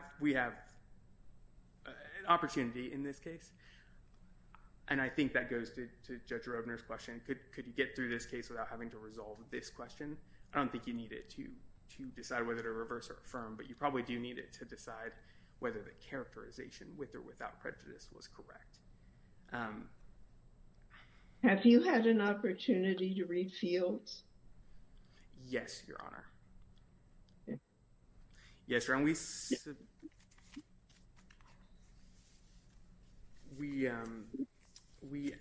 an opportunity in this case. And I think that goes to Judge Roebner's question. Could you get through this case without having to resolve this question? I don't think you need it to decide whether to reverse or affirm. But you probably do need it to decide whether the characterization with or without prejudice was correct. Have you had an opportunity to read fields? Yes, Your Honor. Yes, Your Honor. We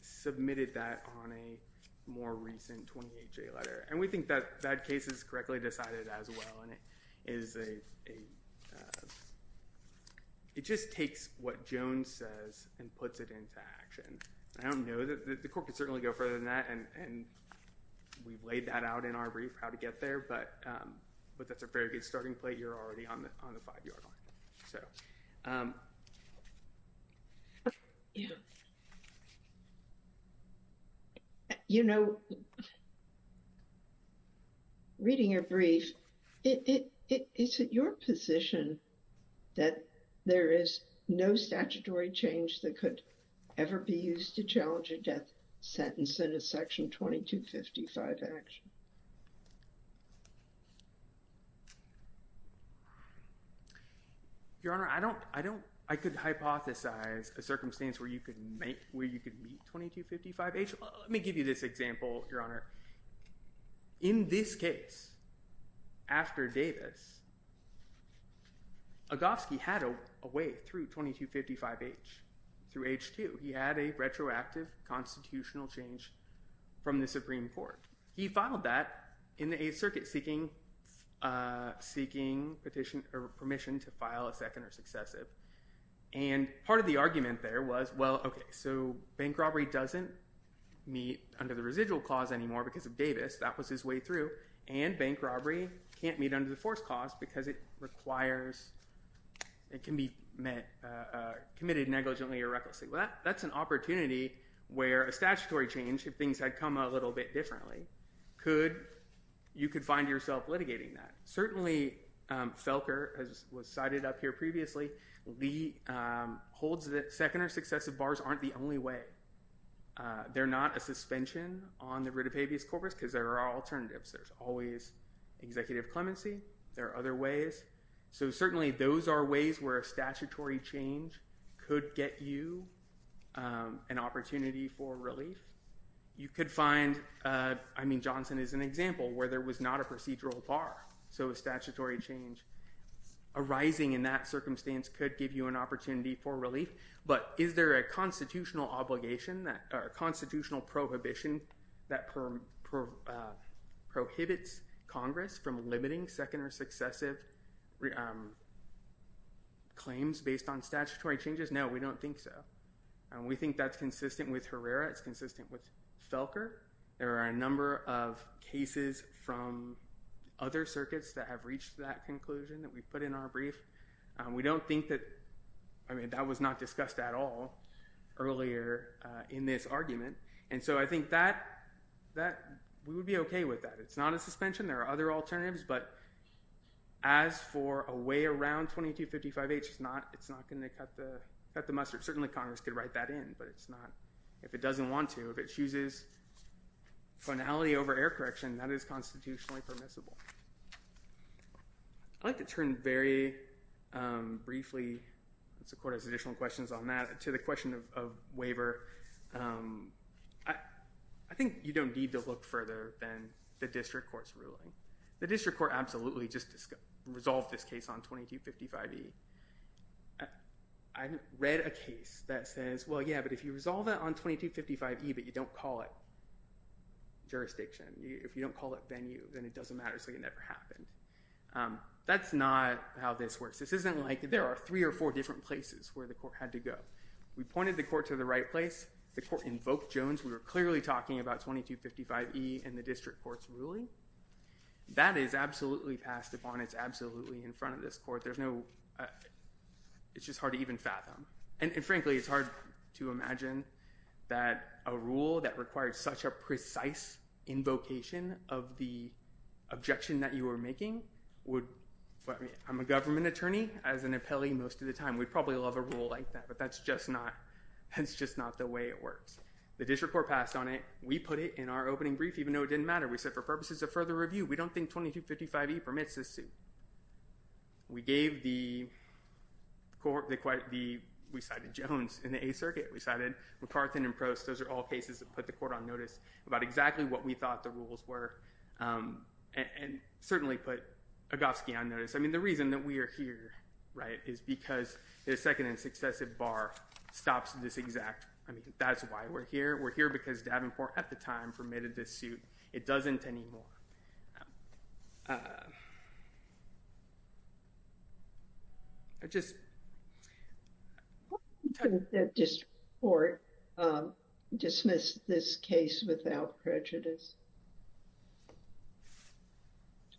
submitted that on a more recent 28-J letter. And we think that case is correctly decided as well. And it just takes what Jones says and puts it into action. I don't know. The court could certainly go further than that. And we've laid that out in our brief, how to get there. But that's a very good starting plate. You're already on the five-yard line. So. You know, reading your brief, is it your position that there is no statutory change that could ever be used to challenge a death sentence in a Section 2255 action? Your Honor, I could hypothesize a circumstance where you could meet 2255H. Let me give you this example, Your Honor. In this case, after Davis, Agofsky had a way through 2255H, through H2. He had a retroactive constitutional change from the Supreme Court. He filed that in a circuit seeking permission to file a second or successive. And part of the argument there was, well, OK. So bank robbery doesn't meet under the residual clause anymore because of Davis. That was his way through. And bank robbery can't meet under the force clause because it can be committed negligently or recklessly. Well, that's an opportunity where a statutory change, if things had come a little bit differently, you could find yourself litigating that. Certainly, Felker, as was cited up here previously, Lee holds that second or successive bars aren't the only way. They're not a suspension on the writ of habeas corpus because there are alternatives. There's always executive clemency. There are other ways. So certainly, those are ways where a statutory change could get you an opportunity for relief. You could find, I mean, Johnson is an example where there was not a procedural bar. So a statutory change arising in that circumstance could give you an opportunity for relief. But is there a constitutional obligation or constitutional prohibition that prohibits Congress from limiting second or successive claims based on statutory changes? No, we don't think so. And we think that's consistent with Herrera. It's consistent with Felker. There are a number of cases from other circuits that have reached that conclusion that we've put in our brief. We don't think that, I mean, that was not discussed at all earlier in this argument. And so I think that we would be OK with that. It's not a suspension. There are other alternatives. But as for a way around 2255H, it's not going to cut the mustard. Certainly, Congress could write that in. But it's not, if it doesn't want to, if it chooses finality over error correction, that is constitutionally permissible. I'd like to turn very briefly, since the court has additional questions on that, to the question of waiver. I think you don't need to look further than the district court's ruling. The district court absolutely just resolved this case on 2255E. I read a case that says, well, yeah, but if you resolve that on 2255E, but you don't call it jurisdiction, if you don't call it venue, then it doesn't matter. So it never happened. That's not how this works. This isn't like there are three or four different places where the court had to go. We pointed the court to the right place. The court invoked Jones. We were clearly talking about 2255E in the district court's ruling. That is absolutely passed upon. It's absolutely in front of this court. It's just hard to even fathom. And frankly, it's hard to imagine that a rule that required such a precise invocation of the objection that you were making would, I'm a government attorney as an appellee most of the time. We'd probably love a rule like that, but that's just not the way it works. The district court passed on it. We put it in our opening brief, even though it didn't matter. We said, for purposes of further review, we don't think 2255E permits this suit. We gave the court, we cited Jones in the Eighth Circuit. We cited McCarthin and Prost. Those are all cases that put the court on notice about exactly what we thought the rules were and certainly put Agofsky on notice. I mean, the reason that we are here is because the second and successive bar stops at this exact. That's why we're here. We're here because Davenport, at the time, permitted this suit. It doesn't anymore. I just... Why do you think the district court dismissed this case without prejudice?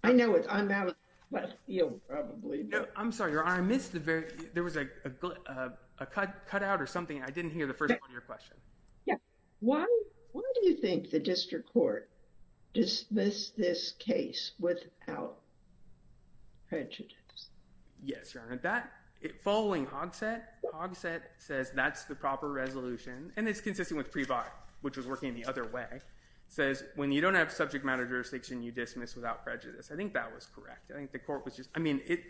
I know it's unbalanced, but you'll probably... No, I'm sorry, Your Honor. I missed the very... There was a cutout or something. I didn't hear the first part of your question. Yeah. Why do you think the district court dismissed this case without prejudice? Yes, Your Honor. Following Hogsett, Hogsett says that's the proper resolution, and it's consistent with Prevost, which was working the other way. It says when you don't have subject matter jurisdiction, you dismiss without prejudice. I think that was correct. I think the court was just... I mean, it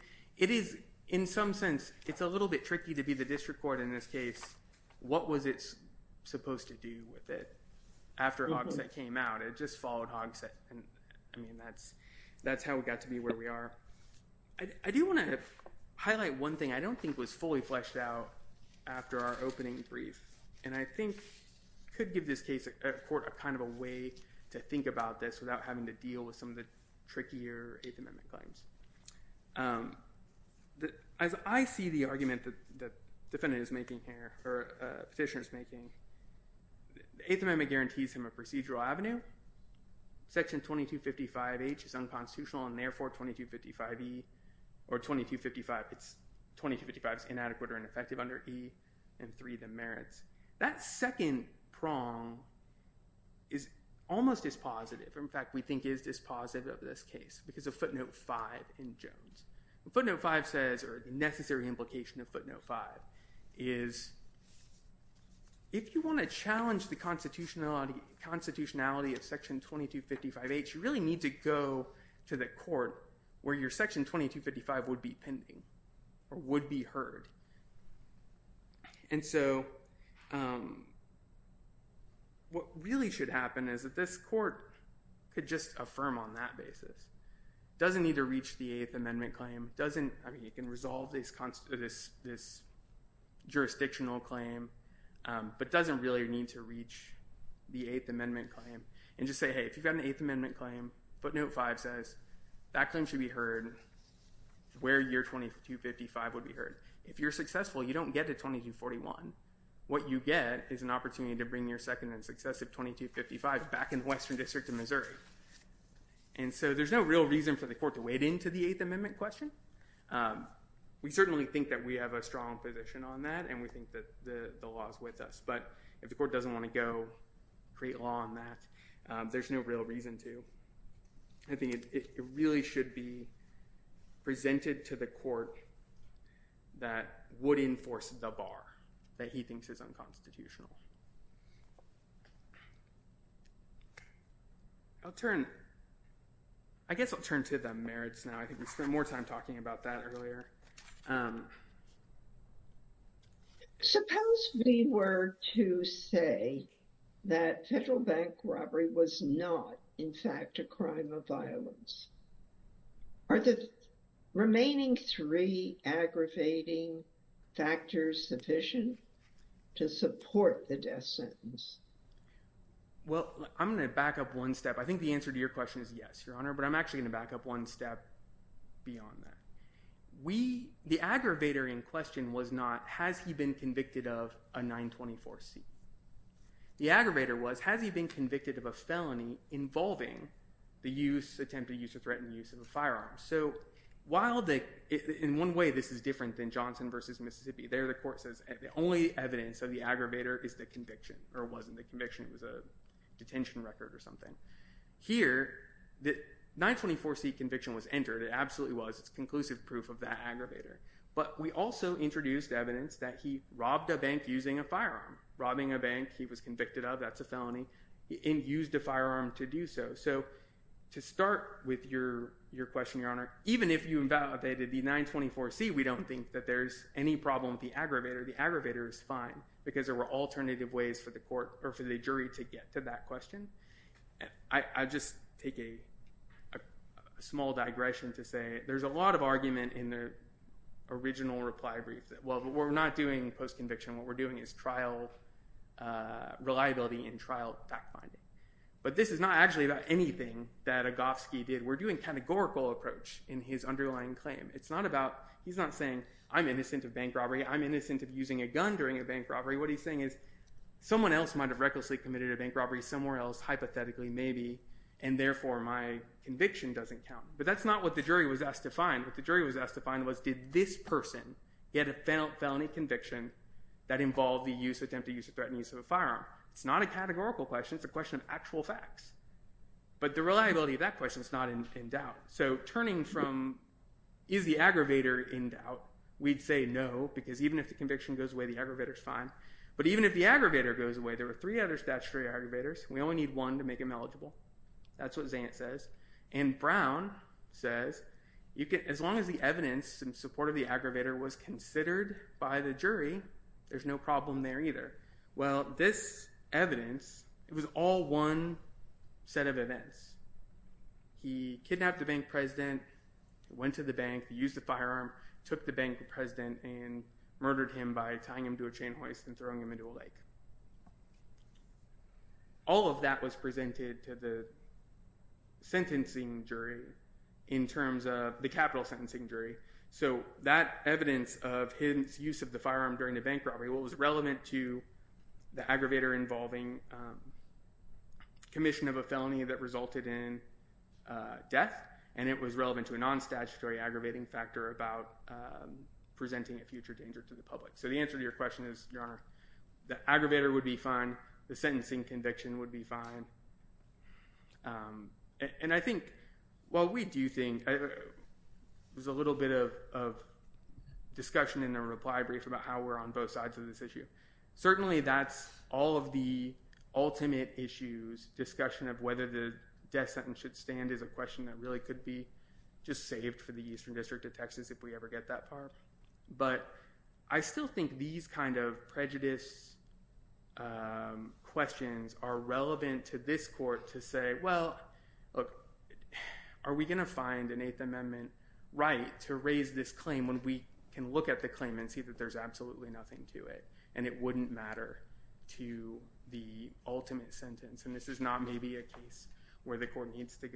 is, in some sense, it's a little bit tricky to be the district court in this case. What was it supposed to do with it after Hogsett came out? It just followed Hogsett. I mean, that's how we got to be where we are. I do want to highlight one thing I don't think was fully fleshed out after our opening brief, and I think could give this case... a court kind of a way to think about this without having to deal with some of the trickier Eighth Amendment claims. As I see the argument the defendant is making here, or petitioner is making, the Eighth Amendment guarantees him a procedural avenue. Section 2255H is unconstitutional, and therefore 2255E... or 2255, it's... 2255 is inadequate or ineffective under E, and 3, the merits. That second prong is almost dispositive. In fact, we think it is dispositive of this case because of Footnote 5 in Jones. What Footnote 5 says, or the necessary implication of Footnote 5, is if you want to challenge the constitutionality of Section 2255H, you really need to go to the court where your Section 2255 would be pending or would be heard. And so, what really should happen is that this court could just affirm on that basis. It doesn't need to reach the Eighth Amendment claim. It can resolve this jurisdictional claim, but it doesn't really need to reach the Eighth Amendment claim and just say, hey, if you've got an Eighth Amendment claim, Footnote 5 says that claim should be heard where your 2255 would be heard. If you're successful, you don't get to 2241. What you get is an opportunity to bring your second and successive 2255 back in the Western District of Missouri. And so, there's no real reason for the court to wade into the Eighth Amendment question. We certainly think that we have a strong position on that and we think that the law is with us, but if the court doesn't want to go create law on that, there's no real reason to. I think it really should be presented to the court that would enforce the bar that he thinks is unconstitutional. I guess I'll turn to the merits now. I think we spent more time talking about that earlier. Suppose we were to say that federal bank robbery was not, in fact, a crime of violence. Are the remaining three aggravating factors sufficient to support the death sentence? Well, I'm going to back up one step. I think the answer to your question is yes, Your Honor, but I'm actually going to back up one step beyond that. The aggravator in question was not, has he been convicted of a 924C? The aggravator was, has he been convicted of a felony involving the attempt to use or threaten the use of a firearm? In one way, this is different than Johnson v. Mississippi. There, the court says the only evidence of the aggravator is the conviction, or wasn't the conviction. It was a detention record or something. Here, the 924C conviction was entered. It absolutely was. It's conclusive proof of that aggravator, but we also introduced evidence that he robbed a bank using a firearm. Robbing a bank he was convicted of, that's a felony, and used a firearm to do so. So to start with your question, Your Honor, even if you invalidated the 924C, we don't think that there's any problem with the aggravator. The aggravator is fine because there were alternative ways for the jury to get to that question. I'll just take a small digression to say there's a lot of argument in the original reply brief that, well, we're not doing post-conviction. What we're doing is trial reliability and trial fact-finding. But this is not actually about anything that Agofsky did. We're doing categorical approach in his underlying claim. He's not saying, I'm innocent of bank robbery. I'm innocent of using a gun during a bank robbery. What he's saying is someone else might have recklessly committed a bank robbery somewhere else, hypothetically, maybe, and therefore my conviction doesn't count. But that's not what the jury was asked to find. What the jury was asked to find was did this person, he had a felony conviction that involved the use, attempted use of threat, and use of a firearm. It's not a categorical question. It's a question of actual facts. But the reliability of that question is not in doubt. So turning from is the aggravator in doubt, we'd say no because even if the conviction goes away, the aggravator's fine. But even if the aggravator goes away, there are three other statutory aggravators. We only need one to make him eligible. That's what Zayant says. And Brown says as long as the evidence in support of the aggravator was considered by the jury, there's no problem there either. Well, this evidence, it was all one set of events. He kidnapped the bank president, went to the bank, used a firearm, took the bank president, and murdered him by tying him to a chain hoist and throwing him into a lake. All of that was presented to the capital sentencing jury. So that evidence of his use of the firearm during the bank robbery was relevant to the aggravator involving commission of a felony that resulted in death. And it was relevant to a non-statutory aggravating factor about presenting a future danger to the public. So the answer to your question is, Your Honor, the aggravator would be fine. The sentencing conviction would be fine. And I think while we do think there's a little bit of discussion in the reply brief about how we're on both sides of this issue, certainly that's all of the ultimate issues. Discussion of whether the death sentence should stand is a question that really could be just saved for the Eastern District of Texas if we ever get that far. But I still think these kind of prejudice questions are relevant to this court to say, well, look, are we going to find an Eighth Amendment right to raise this claim when we can look at the claim and see that there's absolutely nothing to it? And it wouldn't matter to the ultimate sentence. And this is not maybe a case where the court needs to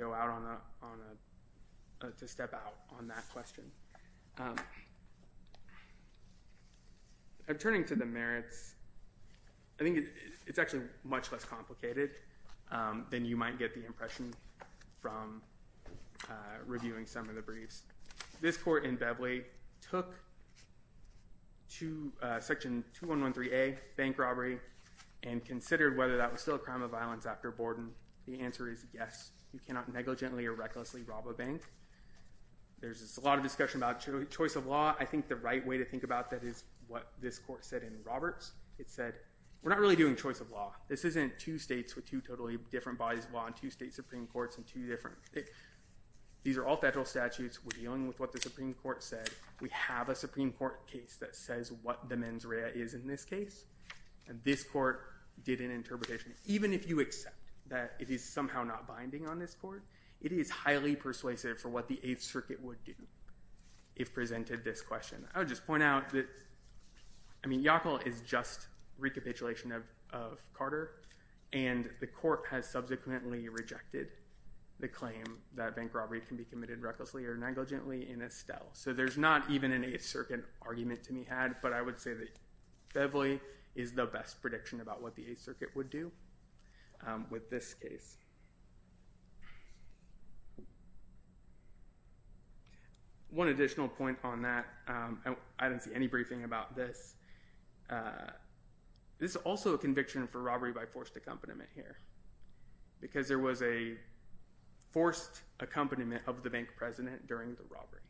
step out on that question. I'm turning to the merits. I think it's actually much less complicated than you might get the impression from reviewing some of the briefs. This court in Bevely took Section 2113A, bank robbery, and considered whether that was still a crime of violence after Borden. The answer is yes. You cannot negligently or recklessly rob a bank. There's a lot of discussion about choice of law. I think the right way to think about that is what this court said in Roberts. It said, we're not really doing choice of law. This isn't two states with two totally different bodies of law and two state Supreme Courts and two different. These are all federal statutes. We're dealing with what the Supreme Court said. We have a Supreme Court case that says what the mens rea is in this case. And this court did an interpretation. Even if you accept that it is somehow not binding on this court, it is highly persuasive for what the Eighth Circuit would do if presented this question. I would just point out that, I mean, Yackel is just recapitulation of Carter. And the court has subsequently rejected the claim that bank robbery can be committed recklessly or negligently in Estelle. So there's not even an Eighth Circuit argument to be had. But I would say that Bevely is the best prediction about what the Eighth Circuit would do with this case. One additional point on that, I don't see any briefing about this. This is also a conviction for robbery by forced accompaniment here. Because there was a forced accompaniment of the bank president during the robbery.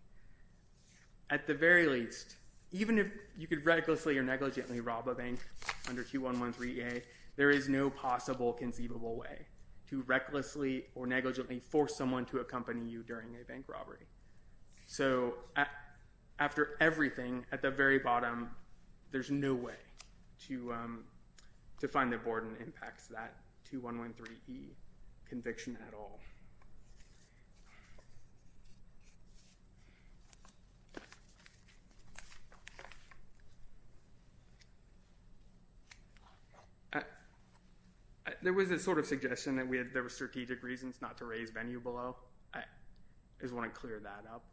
At the very least, even if you could recklessly or negligently rob a bank under Q113A, there is no possible conceivable way to recklessly or negligently force someone to accompany you during a bank robbery. So after everything, at the very bottom, there's no way to find that Borden impacts that 2113E conviction at all. There was a sort of suggestion that there were strategic reasons not to raise venue below. I just want to clear that up.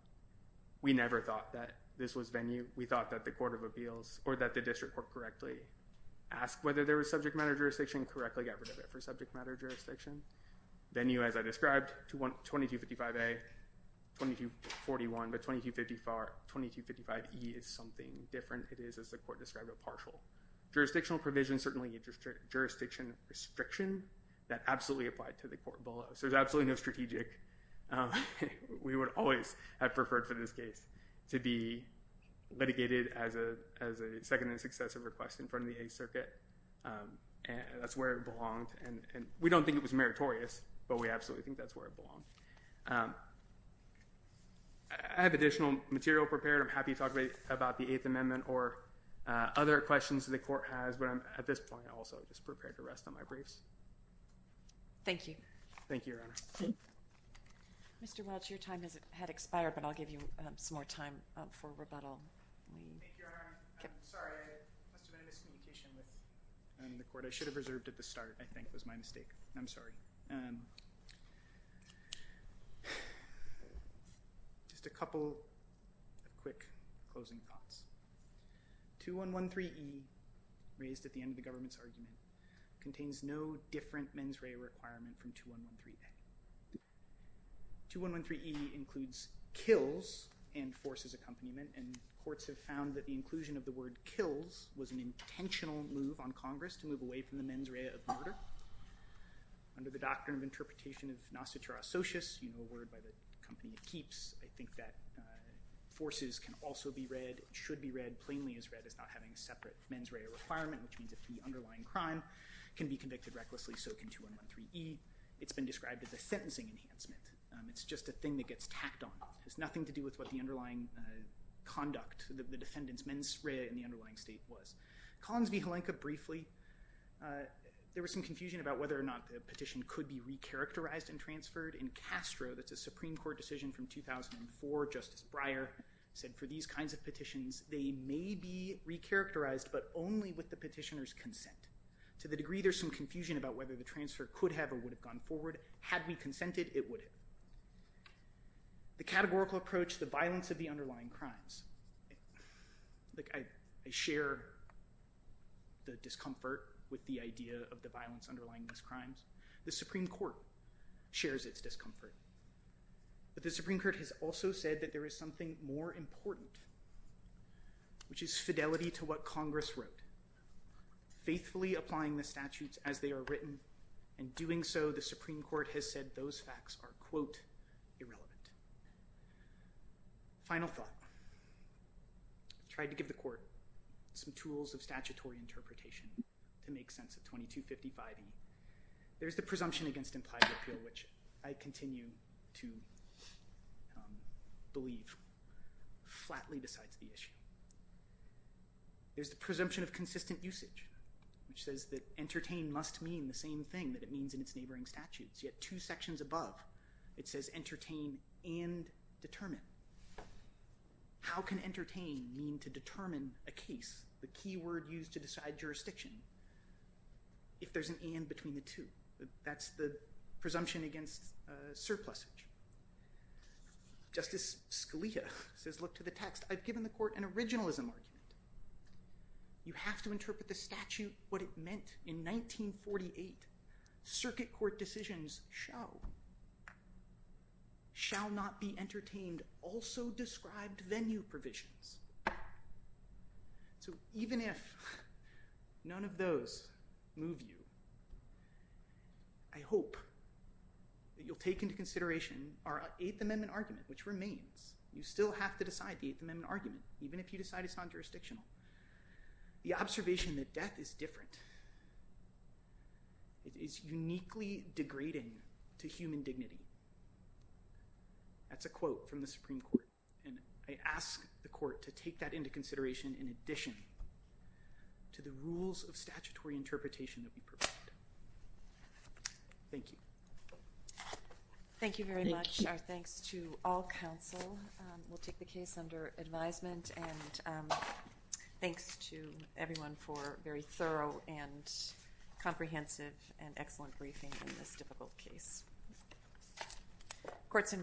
We never thought that this was venue. We thought that the court of appeals, or that the district court correctly asked whether there was subject matter jurisdiction, correctly got rid of it for subject matter jurisdiction. Venue, as I described, 2255A, 2241, but 2255E is something different. It is, as the court described, a partial jurisdictional provision, certainly a jurisdiction restriction that absolutely applied to the court below. So there's absolutely no strategic. We would always have preferred for this case to be litigated as a second and successive request in front of the Eighth Circuit. And that's where it belonged. And we don't think it was meritorious, but we absolutely think that's where it belonged. I have additional material prepared. I'm happy to talk about the Eighth Amendment or other questions that the court has. But at this point, I'm also just prepared to rest on my briefs. Thank you. Thank you, Your Honor. Mr. Welch, your time has expired, but I'll give you some more time for rebuttal. Thank you, Your Honor. I'm sorry. There must have been a miscommunication with the court. What I should have reserved at the start, I think, was my mistake. I'm sorry. Just a couple quick closing thoughts. 2113E, raised at the end of the government's argument, contains no different mens rea requirement from 2113A. 2113E includes kills and forces accompaniment. And courts have found that the inclusion of the word kills was an intentional move on Congress to move away from the mens rea of murder. Under the doctrine of interpretation of nascitura socius, a word by the company that keeps, I think that forces can also be read, should be read, plainly as read, as not having a separate mens rea requirement, which means if the underlying crime can be convicted recklessly, so can 2113E. It's been described as a sentencing enhancement. It's just a thing that gets tacked on. It has nothing to do with what the underlying conduct, the defendant's mens rea in the underlying state was. Collins v. Halenka, briefly, there was some confusion about whether or not the petition could be recharacterized and transferred. In Castro, that's a Supreme Court decision from 2004, Justice Breyer said for these kinds of petitions, they may be recharacterized, but only with the petitioner's consent. To the degree there's some confusion about whether the transfer could have or would have gone forward, had we consented, it would have. The categorical approach, the violence of the underlying crimes, I share the discomfort with the idea of the violence underlying these crimes. The Supreme Court shares its discomfort. But the Supreme Court has also said that there is something more important, which is fidelity to what Congress wrote, faithfully applying the statutes as they are written, and doing so, the Supreme Court has said, those facts are, quote, irrelevant. Final thought. I tried to give the court some tools of statutory interpretation to make sense of 2255. There's the presumption against implied appeal, which I continue to believe flatly decides the issue. There's the presumption of consistent usage, which says that entertain must mean the same thing that it means in its neighboring statutes. So you have two sections above. It says entertain and determine. How can entertain mean to determine a case, the key word used to decide jurisdiction, if there's an and between the two? That's the presumption against surplusage. Justice Scalia says, look to the text. I've given the court an originalism argument. You have to interpret the statute, what it meant. In 1948, circuit court decisions shall not be entertained, also described venue provisions. So even if none of those move you, I hope that you'll take into consideration our Eighth Amendment argument, which remains. You still have to decide the Eighth Amendment argument, even if you decide it's non-jurisdictional. The observation that death is different, it is uniquely degrading to human dignity. That's a quote from the Supreme Court. And I ask the court to take that into consideration in addition to the rules of statutory interpretation that we provide. Thank you. Thank you very much. Our thanks to all counsel. We'll take the case under advisement. And thanks to everyone for very thorough and comprehensive and excellent briefing in this difficult case. Courts in recess.